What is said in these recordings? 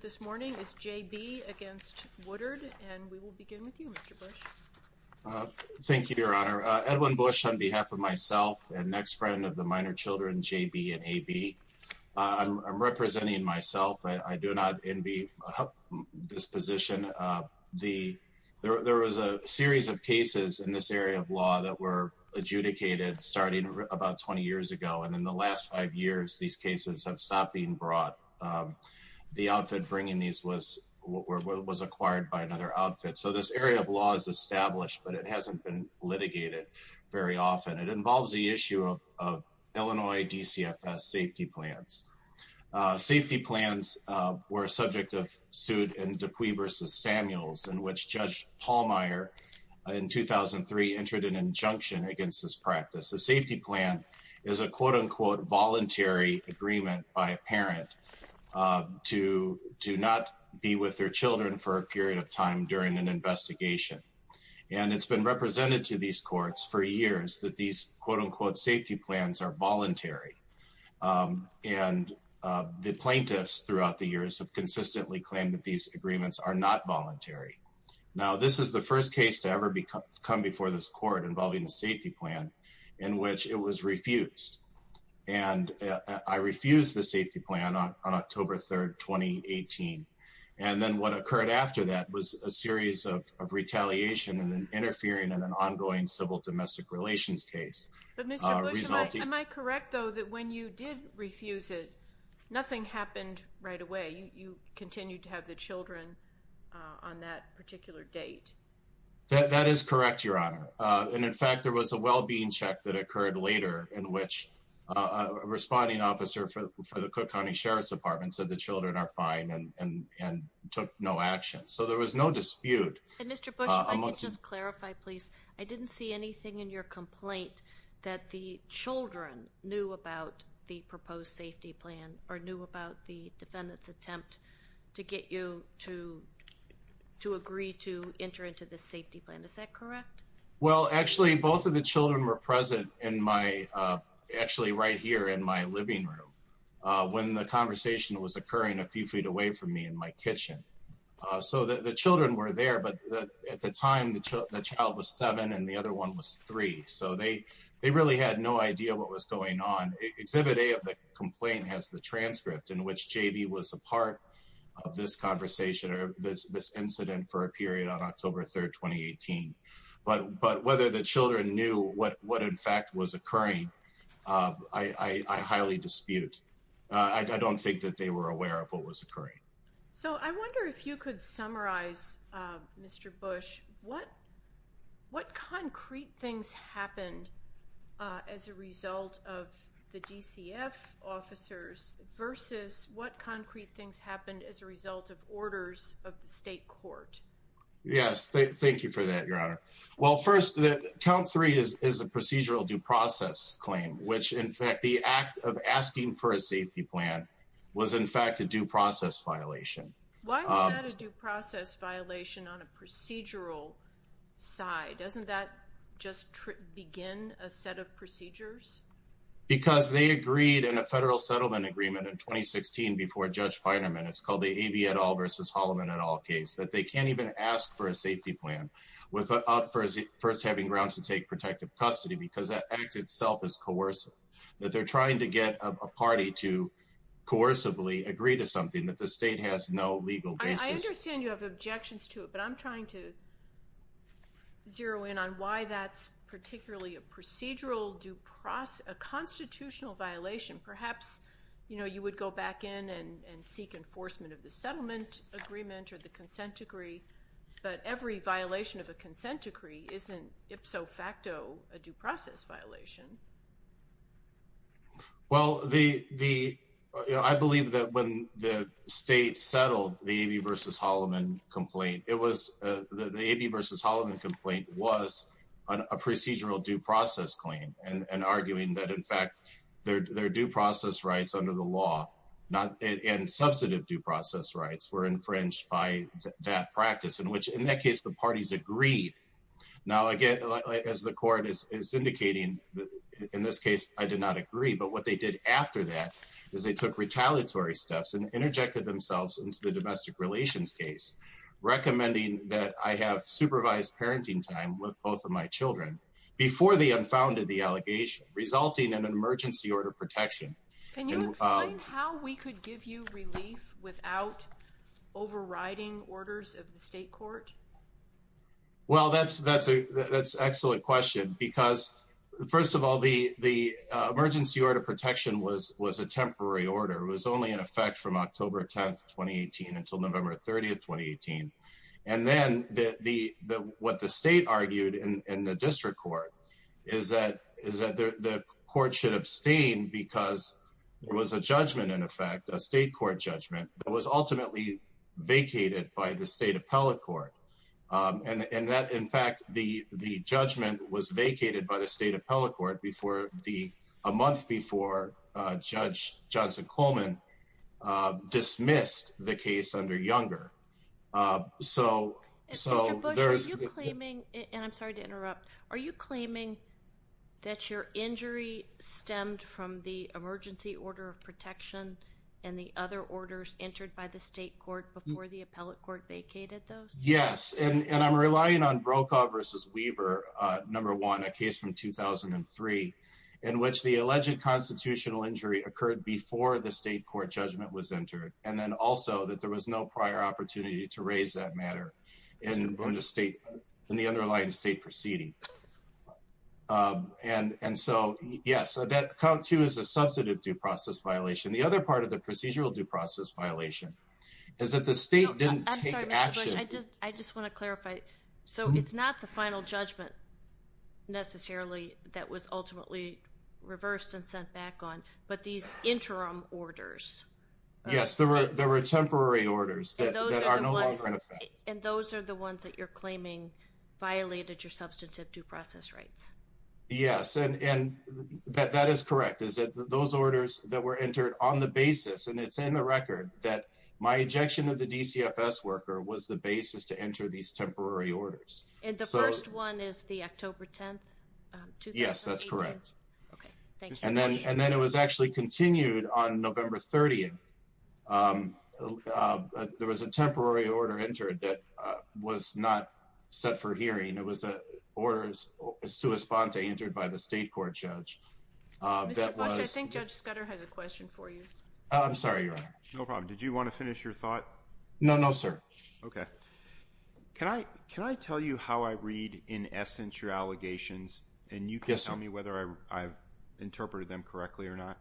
this morning is JB against Woodard and we will begin with you Mr. Bush. Thank you Your Honor. Edwin Bush on behalf of myself and next friend of the minor children JB and AB. I'm representing myself. I do not envy this position. There was a series of cases in this area of law that were adjudicated starting about 20 years ago and in the last five years these cases have stopped being brought. The outfit bringing these was what was acquired by another outfit. So this area of law is established but it hasn't been litigated very often. It involves the issue of Illinois DCFS safety plans. Safety plans were subject of suit in Dupuy versus Samuels in which Judge Pallmeyer in 2003 entered an injunction against this practice. The safety plan is a quote-unquote voluntary agreement by a parent to do not be with their children for a period of time during an investigation and it's been represented to these courts for years that these quote-unquote safety plans are voluntary and the plaintiffs throughout the years have consistently claimed that these agreements are not voluntary. Now this is the first case to ever become before this court involving the safety plan in which it was refused and I refused the safety plan on October 3rd 2018 and then what occurred after that was a series of retaliation and interfering in an ongoing civil domestic relations case. But Mr. Bush, am I correct though that when you did refuse it nothing happened right away you continued to have the children on that particular date? That is correct your honor and in fact there was a well-being check that occurred later in which a responding officer for the Cook County Sheriff's Department said the children are fine and and took no action so there was no dispute. Mr. Bush, if I could just clarify please I didn't see anything in your complaint that the children knew about the proposed safety plan or knew about the defendants attempt to get you to to agree to enter into the safety plan is that correct? Well actually both of the children were present in my actually right here in my living room when the conversation was occurring a few feet away from me in my kitchen so that the children were there but at the time the child was seven and the other one was three so they they really had no idea what was going on. Exhibit A of the complaint has the transcript in which JB was a part of this conversation or this incident for a period on October 3rd 2018 but but whether the children knew what what in fact was occurring I I highly dispute. I don't think that they were aware of what was occurring. So I wonder if you could summarize Mr. Bush what what concrete things happened as a result of the DCF officers versus what Yes thank you for that your honor. Well first that count three is is a procedural due process claim which in fact the act of asking for a safety plan was in fact a due process violation. Why was that a due process violation on a procedural side? Doesn't that just begin a set of procedures? Because they agreed in a federal settlement agreement in 2016 before Judge Feiderman it's called the Bietol versus Holloman et al case that they can't even ask for a safety plan without first having grounds to take protective custody because that act itself is coercive. That they're trying to get a party to coercively agree to something that the state has no legal basis. I understand you have objections to it but I'm trying to zero in on why that's particularly a procedural due process a constitutional violation perhaps you know you would go back in and seek enforcement of the settlement agreement or the consent decree but every violation of a consent decree isn't ipso facto a due process violation. Well the the I believe that when the state settled the A.B. versus Holloman complaint it was the A.B. versus Holloman complaint was on a procedural due process claim and arguing that in fact their due process rights under the and substantive due process rights were infringed by that practice in which in that case the parties agreed. Now again as the court is indicating in this case I did not agree but what they did after that is they took retaliatory steps and interjected themselves into the domestic relations case recommending that I have supervised parenting time with both of my children before they unfounded the How we could give you relief without overriding orders of the state court? Well that's that's a that's excellent question because first of all the the emergency order protection was was a temporary order it was only in effect from October 10th 2018 until November 30th 2018 and then the the what the state argued in the district court is that is that the court should abstain because there was a judgment in effect a state court judgment that was ultimately vacated by the state appellate court and and that in fact the the judgment was vacated by the state appellate court before the a month before Judge Johnson Coleman dismissed the case under Younger so so there's a claiming I'm sorry to interrupt are you claiming that your injury stemmed from the emergency order of protection and the other orders entered by the state court before the appellate court vacated those? Yes and and I'm relying on Brokaw versus Weaver number one a case from 2003 in which the alleged constitutional injury occurred before the state court judgment was entered and then also that there was no prior opportunity to raise that matter and going to state in the underlying state proceeding and and so yes that count two is a substantive due process violation the other part of the procedural due process violation is that the state didn't I just want to clarify so it's not the final judgment necessarily that was ultimately reversed and sent back on but these interim orders yes there were there were temporary orders that are no longer in and those are the ones that you're claiming violated your substantive due process rights yes and and that that is correct is that those orders that were entered on the basis and it's in the record that my ejection of the DCFS worker was the basis to enter these temporary orders and the first one is the October 10th yes that's correct and then and then it was actually continued on November 30th there was a temporary order entered that was not set for hearing it was a orders is to respond to entered by the state court judge did you want to finish your thought no no sir okay can I can I tell you how I read in essence your allegations and you can tell me whether I've interpreted them correctly or not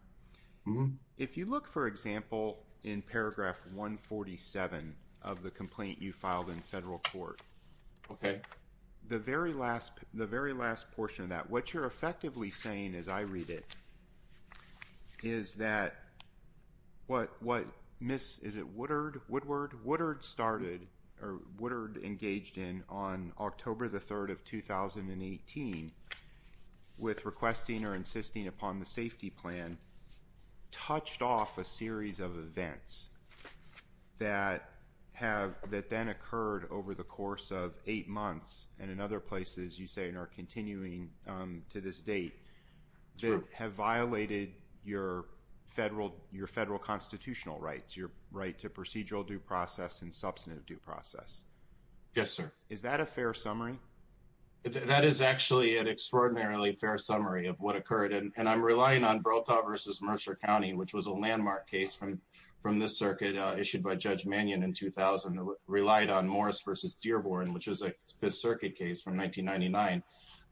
mm-hmm if you look for example in paragraph 147 of the complaint you filed in federal court okay the very last the very last portion of that what you're effectively saying as I read it is that what what miss is it Woodard Woodward Woodard started or Woodard engaged in on October the 3rd of 2018 with requesting or insisting upon the safety plan touched off a series of events that have that then occurred over the course of eight months and in other places you say in our continuing to this date they have violated your federal your federal constitutional rights your right to procedural due process and that is actually an extraordinarily fair summary of what occurred and I'm relying on broke up versus Mercer County which was a landmark case from from this circuit issued by Judge Mannion in 2000 relied on Morris versus Dearborn which is a Fifth Circuit case from 1999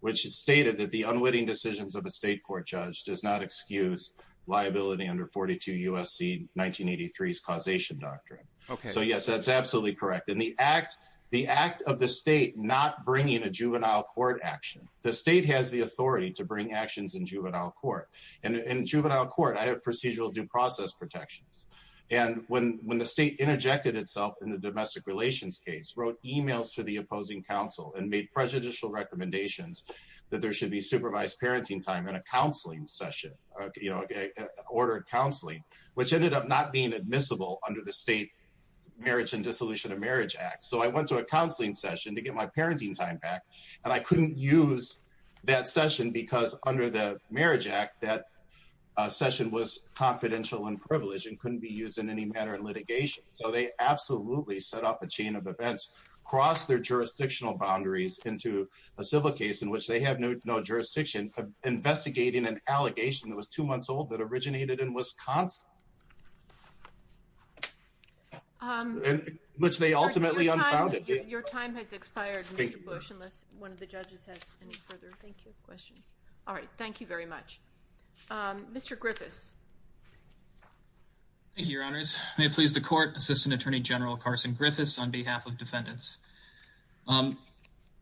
which is stated that the unwitting decisions of a state court judge does not excuse liability under 42 USC 1983 is causation doctrine okay so yes that's absolutely correct and the act the act of the state not bringing a juvenile court action the state has the authority to bring actions in juvenile court and in juvenile court I have procedural due process protections and when when the state interjected itself in the domestic relations case wrote emails to the opposing counsel and made prejudicial recommendations that there should be supervised parenting time in a counseling session you know okay ordered counseling which ended up not being admissible under the state marriage and dissolution of marriage act so I went to a counseling session to get my parenting time back and I couldn't use that session because under the marriage act that session was confidential and privileged and couldn't be used in any matter of litigation so they absolutely set off a chain of events cross their jurisdictional boundaries into a civil case in which they have no jurisdiction investigating an allegation that was two months old that originated in Wisconsin which they ultimately your time has expired all right thank you very much mr. Griffiths your honors may please the court assistant attorney general Carson Griffiths on behalf of defendants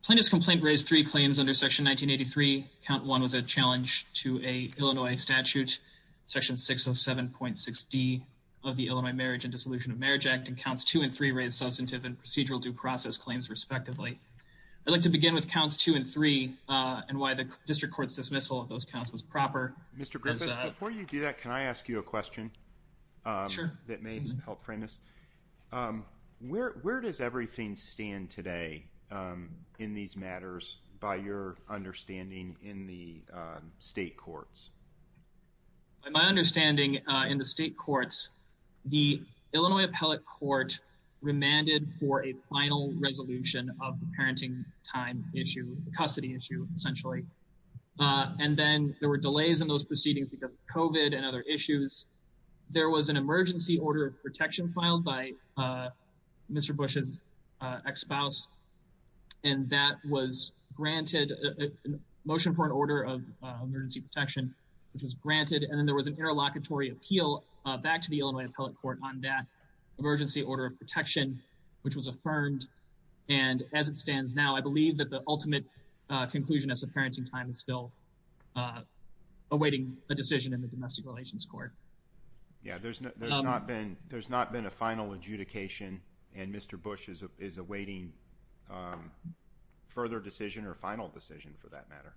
plaintiff's complaint raised three claims under section 1983 count one was a challenge to a Illinois statute section 607.6 d of the Illinois marriage and dissolution of marriage act and counts two and three raised substantive and procedural due process claims respectively I'd like to begin with counts two and three and why the district courts dismissal of those counts was proper mr. Griffiths before you do that can I ask you a question sure that may help frame this where where does everything stand today in these matters by your understanding in the state courts my understanding in the state courts the Illinois appellate court remanded for a final resolution of the parenting time issue the custody issue essentially and then there were delays in those proceedings because kovat and other issues there was an emergency order of protection filed by mr. Bush's ex-spouse and that was granted a motion for an order of emergency protection which was granted and then there was an interlocutory appeal back to the Illinois appellate court on that emergency order of protection which was affirmed and as it stands now I believe that the ultimate conclusion as the parenting time is still awaiting a decision in the domestic relations court yeah there's not there's not been there's not been a and mr. Bush's is awaiting further decision or final decision for that matter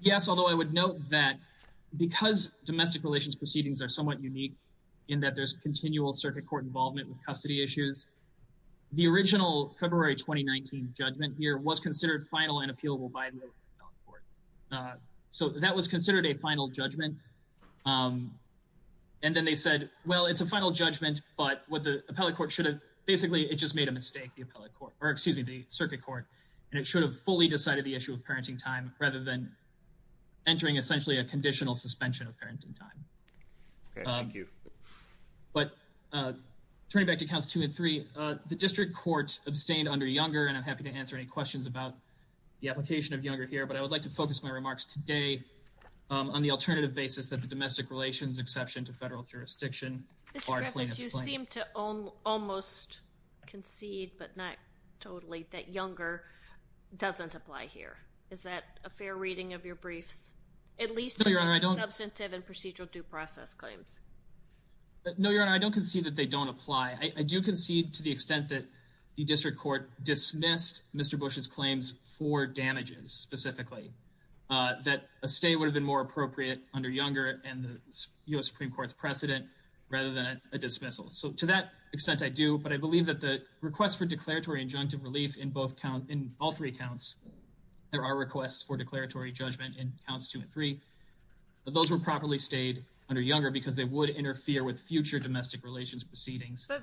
yes although I would note that because domestic relations proceedings are somewhat unique in that there's continual circuit court involvement with custody issues the original February 2019 judgment here was considered final and appealable by so that was considered a final judgment and then they said well it's a final judgment but what the appellate court should have basically it just made a mistake the appellate court or excuse me the circuit court and it should have fully decided the issue of parenting time rather than entering essentially a conditional suspension of parenting time thank you but turning back to counts two and three the district court abstained under younger and I'm happy to answer any questions about the application of younger here but I would like to focus my remarks today on the alternative basis that the almost concede but not totally that younger doesn't apply here is that a fair reading of your briefs at least substantive and procedural due process claims no your honor I don't concede that they don't apply I do concede to the extent that the district court dismissed mr. Bush's claims for damages specifically that a stay would have been more appropriate under younger and the dismissal so to that extent I do but I believe that the request for declaratory injunctive relief in both count in all three accounts there are requests for declaratory judgment in counts two and three those were properly stayed under younger because they would interfere with future domestic relations proceedings I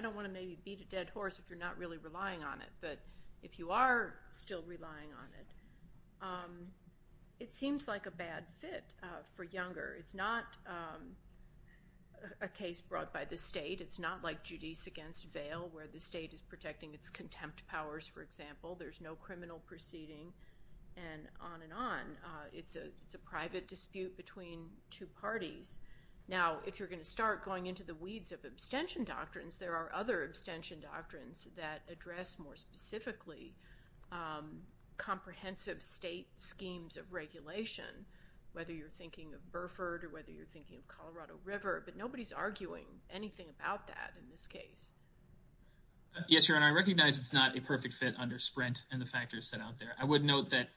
don't want to maybe beat a dead horse if you're not really relying on it but if you are still relying on it it seems like a bad fit for younger it's not a case brought by the state it's not like judice against veil where the state is protecting its contempt powers for example there's no criminal proceeding and on and on it's a it's a private dispute between two parties now if you're going to start going into the weeds of abstention doctrines there are other abstention doctrines that address more specifically comprehensive state of regulation whether you're thinking of Burford or whether you're thinking of Colorado River but nobody's arguing anything about that in this case yes you're and I recognize it's not a perfect fit under sprint and the factors set out there I would note that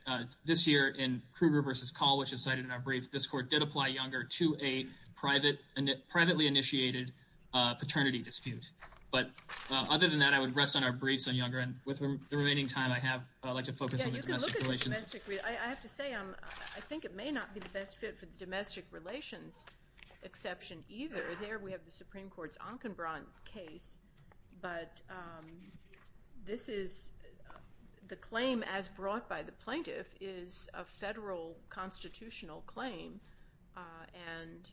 this year in Kruger versus call which is cited in our brief this court did apply younger to a private and it privately initiated paternity dispute but other than that I would rest on our briefs on remaining time I have I have to say I think it may not be the best fit for the domestic relations exception either there we have the Supreme Court's Ankenbron case but this is the claim as brought by the plaintiff is a federal constitutional claim and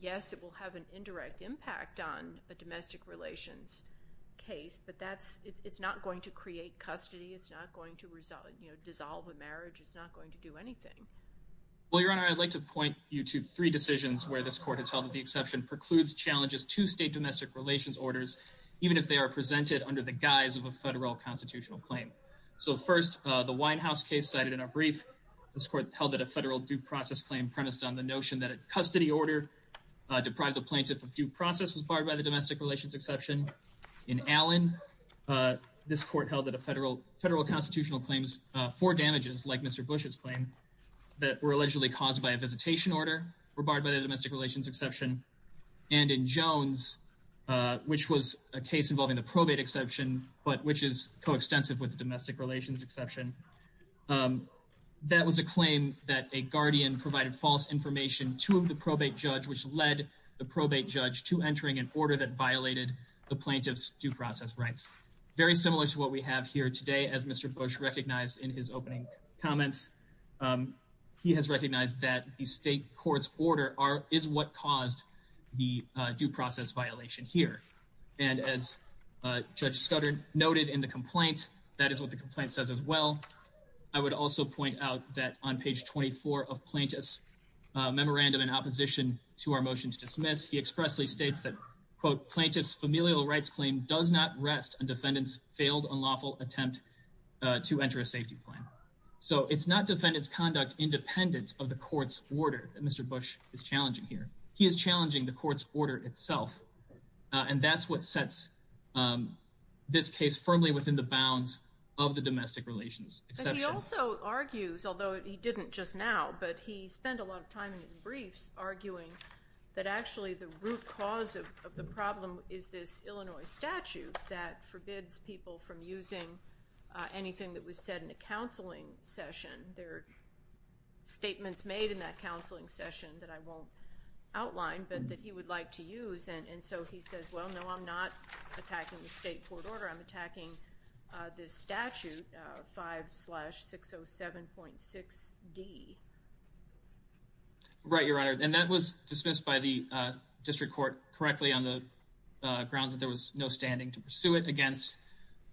yes it will have an indirect impact on a domestic relations case but that's it's not going to create custody it's not going to resolve you know dissolve a marriage it's not going to do anything well your honor I'd like to point you to three decisions where this court has held that the exception precludes challenges to state domestic relations orders even if they are presented under the guise of a federal constitutional claim so first the Winehouse case cited in our brief this court held that a federal due process claim premised on the notion that a custody order deprived the due process was barred by the domestic relations exception in Allen this court held that a federal federal constitutional claims for damages like mr. Bush's claim that were allegedly caused by a visitation order were barred by the domestic relations exception and in Jones which was a case involving the probate exception but which is coextensive with domestic relations exception that was a claim that a guardian provided false information to the probate judge which led the probate judge to entering an order that violated the plaintiffs due process rights very similar to what we have here today as mr. Bush recognized in his opening comments he has recognized that the state courts order are is what caused the due process violation here and as judge Scudder noted in the complaint that is what the complaint says as well I would also point out that on page 24 of plaintiffs memorandum in opposition to our motion to dismiss he expressly states that quote plaintiffs familial rights claim does not rest and defendants failed unlawful attempt to enter a safety plan so it's not defendants conduct independent of the court's order that mr. Bush is challenging here he is challenging the court's order itself and that's what sets this case firmly within the bounds of the domestic relations he also argues although he didn't just now but he spent a lot of time in his briefs arguing that actually the root cause of the problem is this Illinois statute that forbids people from using anything that was said in a counseling session their statements made in that counseling session that I won't outline but that he would like to use and and so he says well no I'm not attacking the state court order I'm attacking this statute 5 slash 607.6 D right your honor and that was dismissed by the district court correctly on the grounds that there was no standing to pursue it against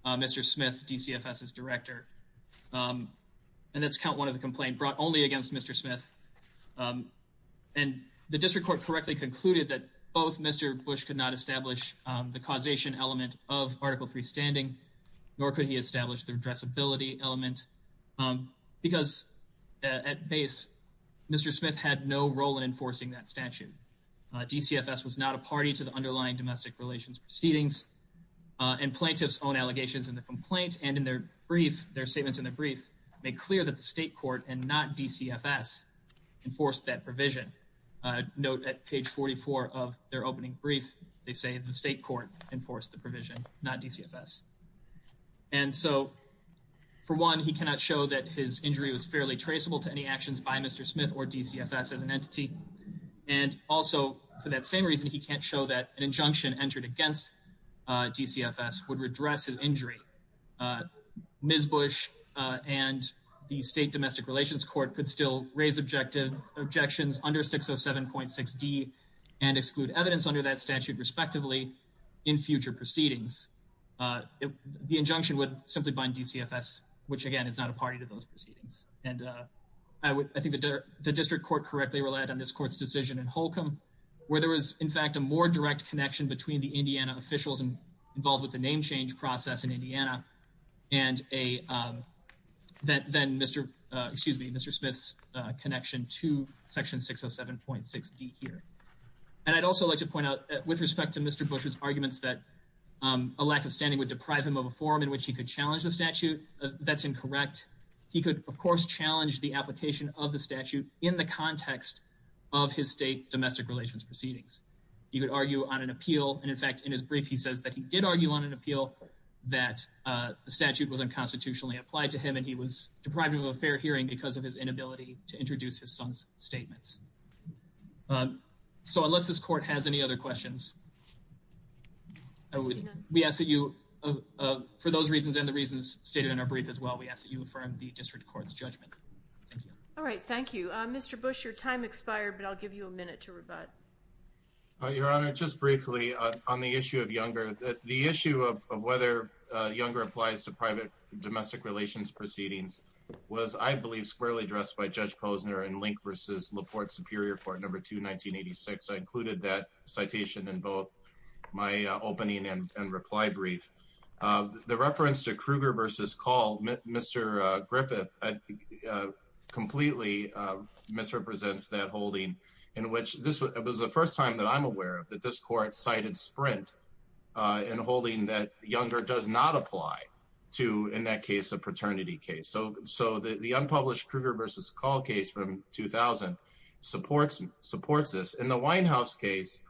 mr. Smith DCFS is director and that's count one of the complaint brought only against mr. Smith and the district court correctly concluded that both mr. Bush could not establish the causation element of article 3 standing nor could he establish the address ability element because at base mr. Smith had no role in enforcing that statute DCFS was not a party to the underlying domestic relations proceedings and plaintiffs own allegations in the complaint and in their brief their statements in the brief make clear that the state court and not DCFS enforced that provision note at page 44 of their opening brief they say the state court enforced the provision not DCFS and so for one he cannot show that his injury was fairly traceable to any actions by mr. Smith or DCFS as an entity and also for that same reason he can't show that an injunction entered against DCFS would redress his injury ms. Bush and the state domestic relations court could still raise objections under 607.6 D and exclude evidence under that statute respectively in future proceedings the injunction would simply bind DCFS which again is not a party to those proceedings and I think the district court correctly relied on this court's decision in Holcomb where there was in fact a more direct connection between the Indiana officials and involved with the name change process in Indiana and a that then mr. excuse me mr. Smith's connection to section 607.6 D here and I'd also like to point out that with respect to mr. Bush's arguments that a lack of standing would deprive him of a forum in which he could challenge the statute that's incorrect he could of course challenge the application of the statute in the context of his state domestic relations proceedings you could argue on an appeal and in fact in his brief he says that he did argue on an appeal that the statute was unconstitutionally applied to him and he was deprived of a fair hearing because of his inability to introduce his son's statements so unless this court has any other questions we ask that you for those reasons and the reasons stated in our brief as well we ask that you affirm the district courts judgment all right thank you mr. Bush your time expired but I'll give you a minute to rebut your honor just briefly on the issue of younger the issue of whether younger applies to private domestic relations proceedings was I believe squarely addressed by judge Posner and link versus LaPorte superior for number two 1986 I included that citation in both my opening and reply brief the reference to Krueger versus call mr. Griffith completely misrepresents that holding in which this was the first time that I'm aware of that this court cited sprint in holding that younger does not apply to in that case a paternity case so so the unpublished Krueger versus call case from 2000 supports supports this in the Winehouse case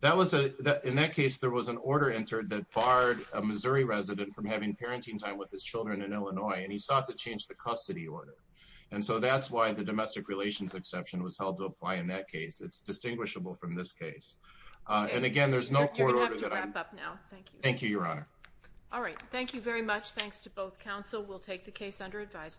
that was a in that case there was an order entered that barred a Missouri resident from having parenting time with his children in Illinois and he sought to change the custody order and so that's why the domestic relations exception was held to apply in that case it's distinguishable from this case and again there's no thank you your honor all right thank you very much thanks to both counsel we'll take the case under advisement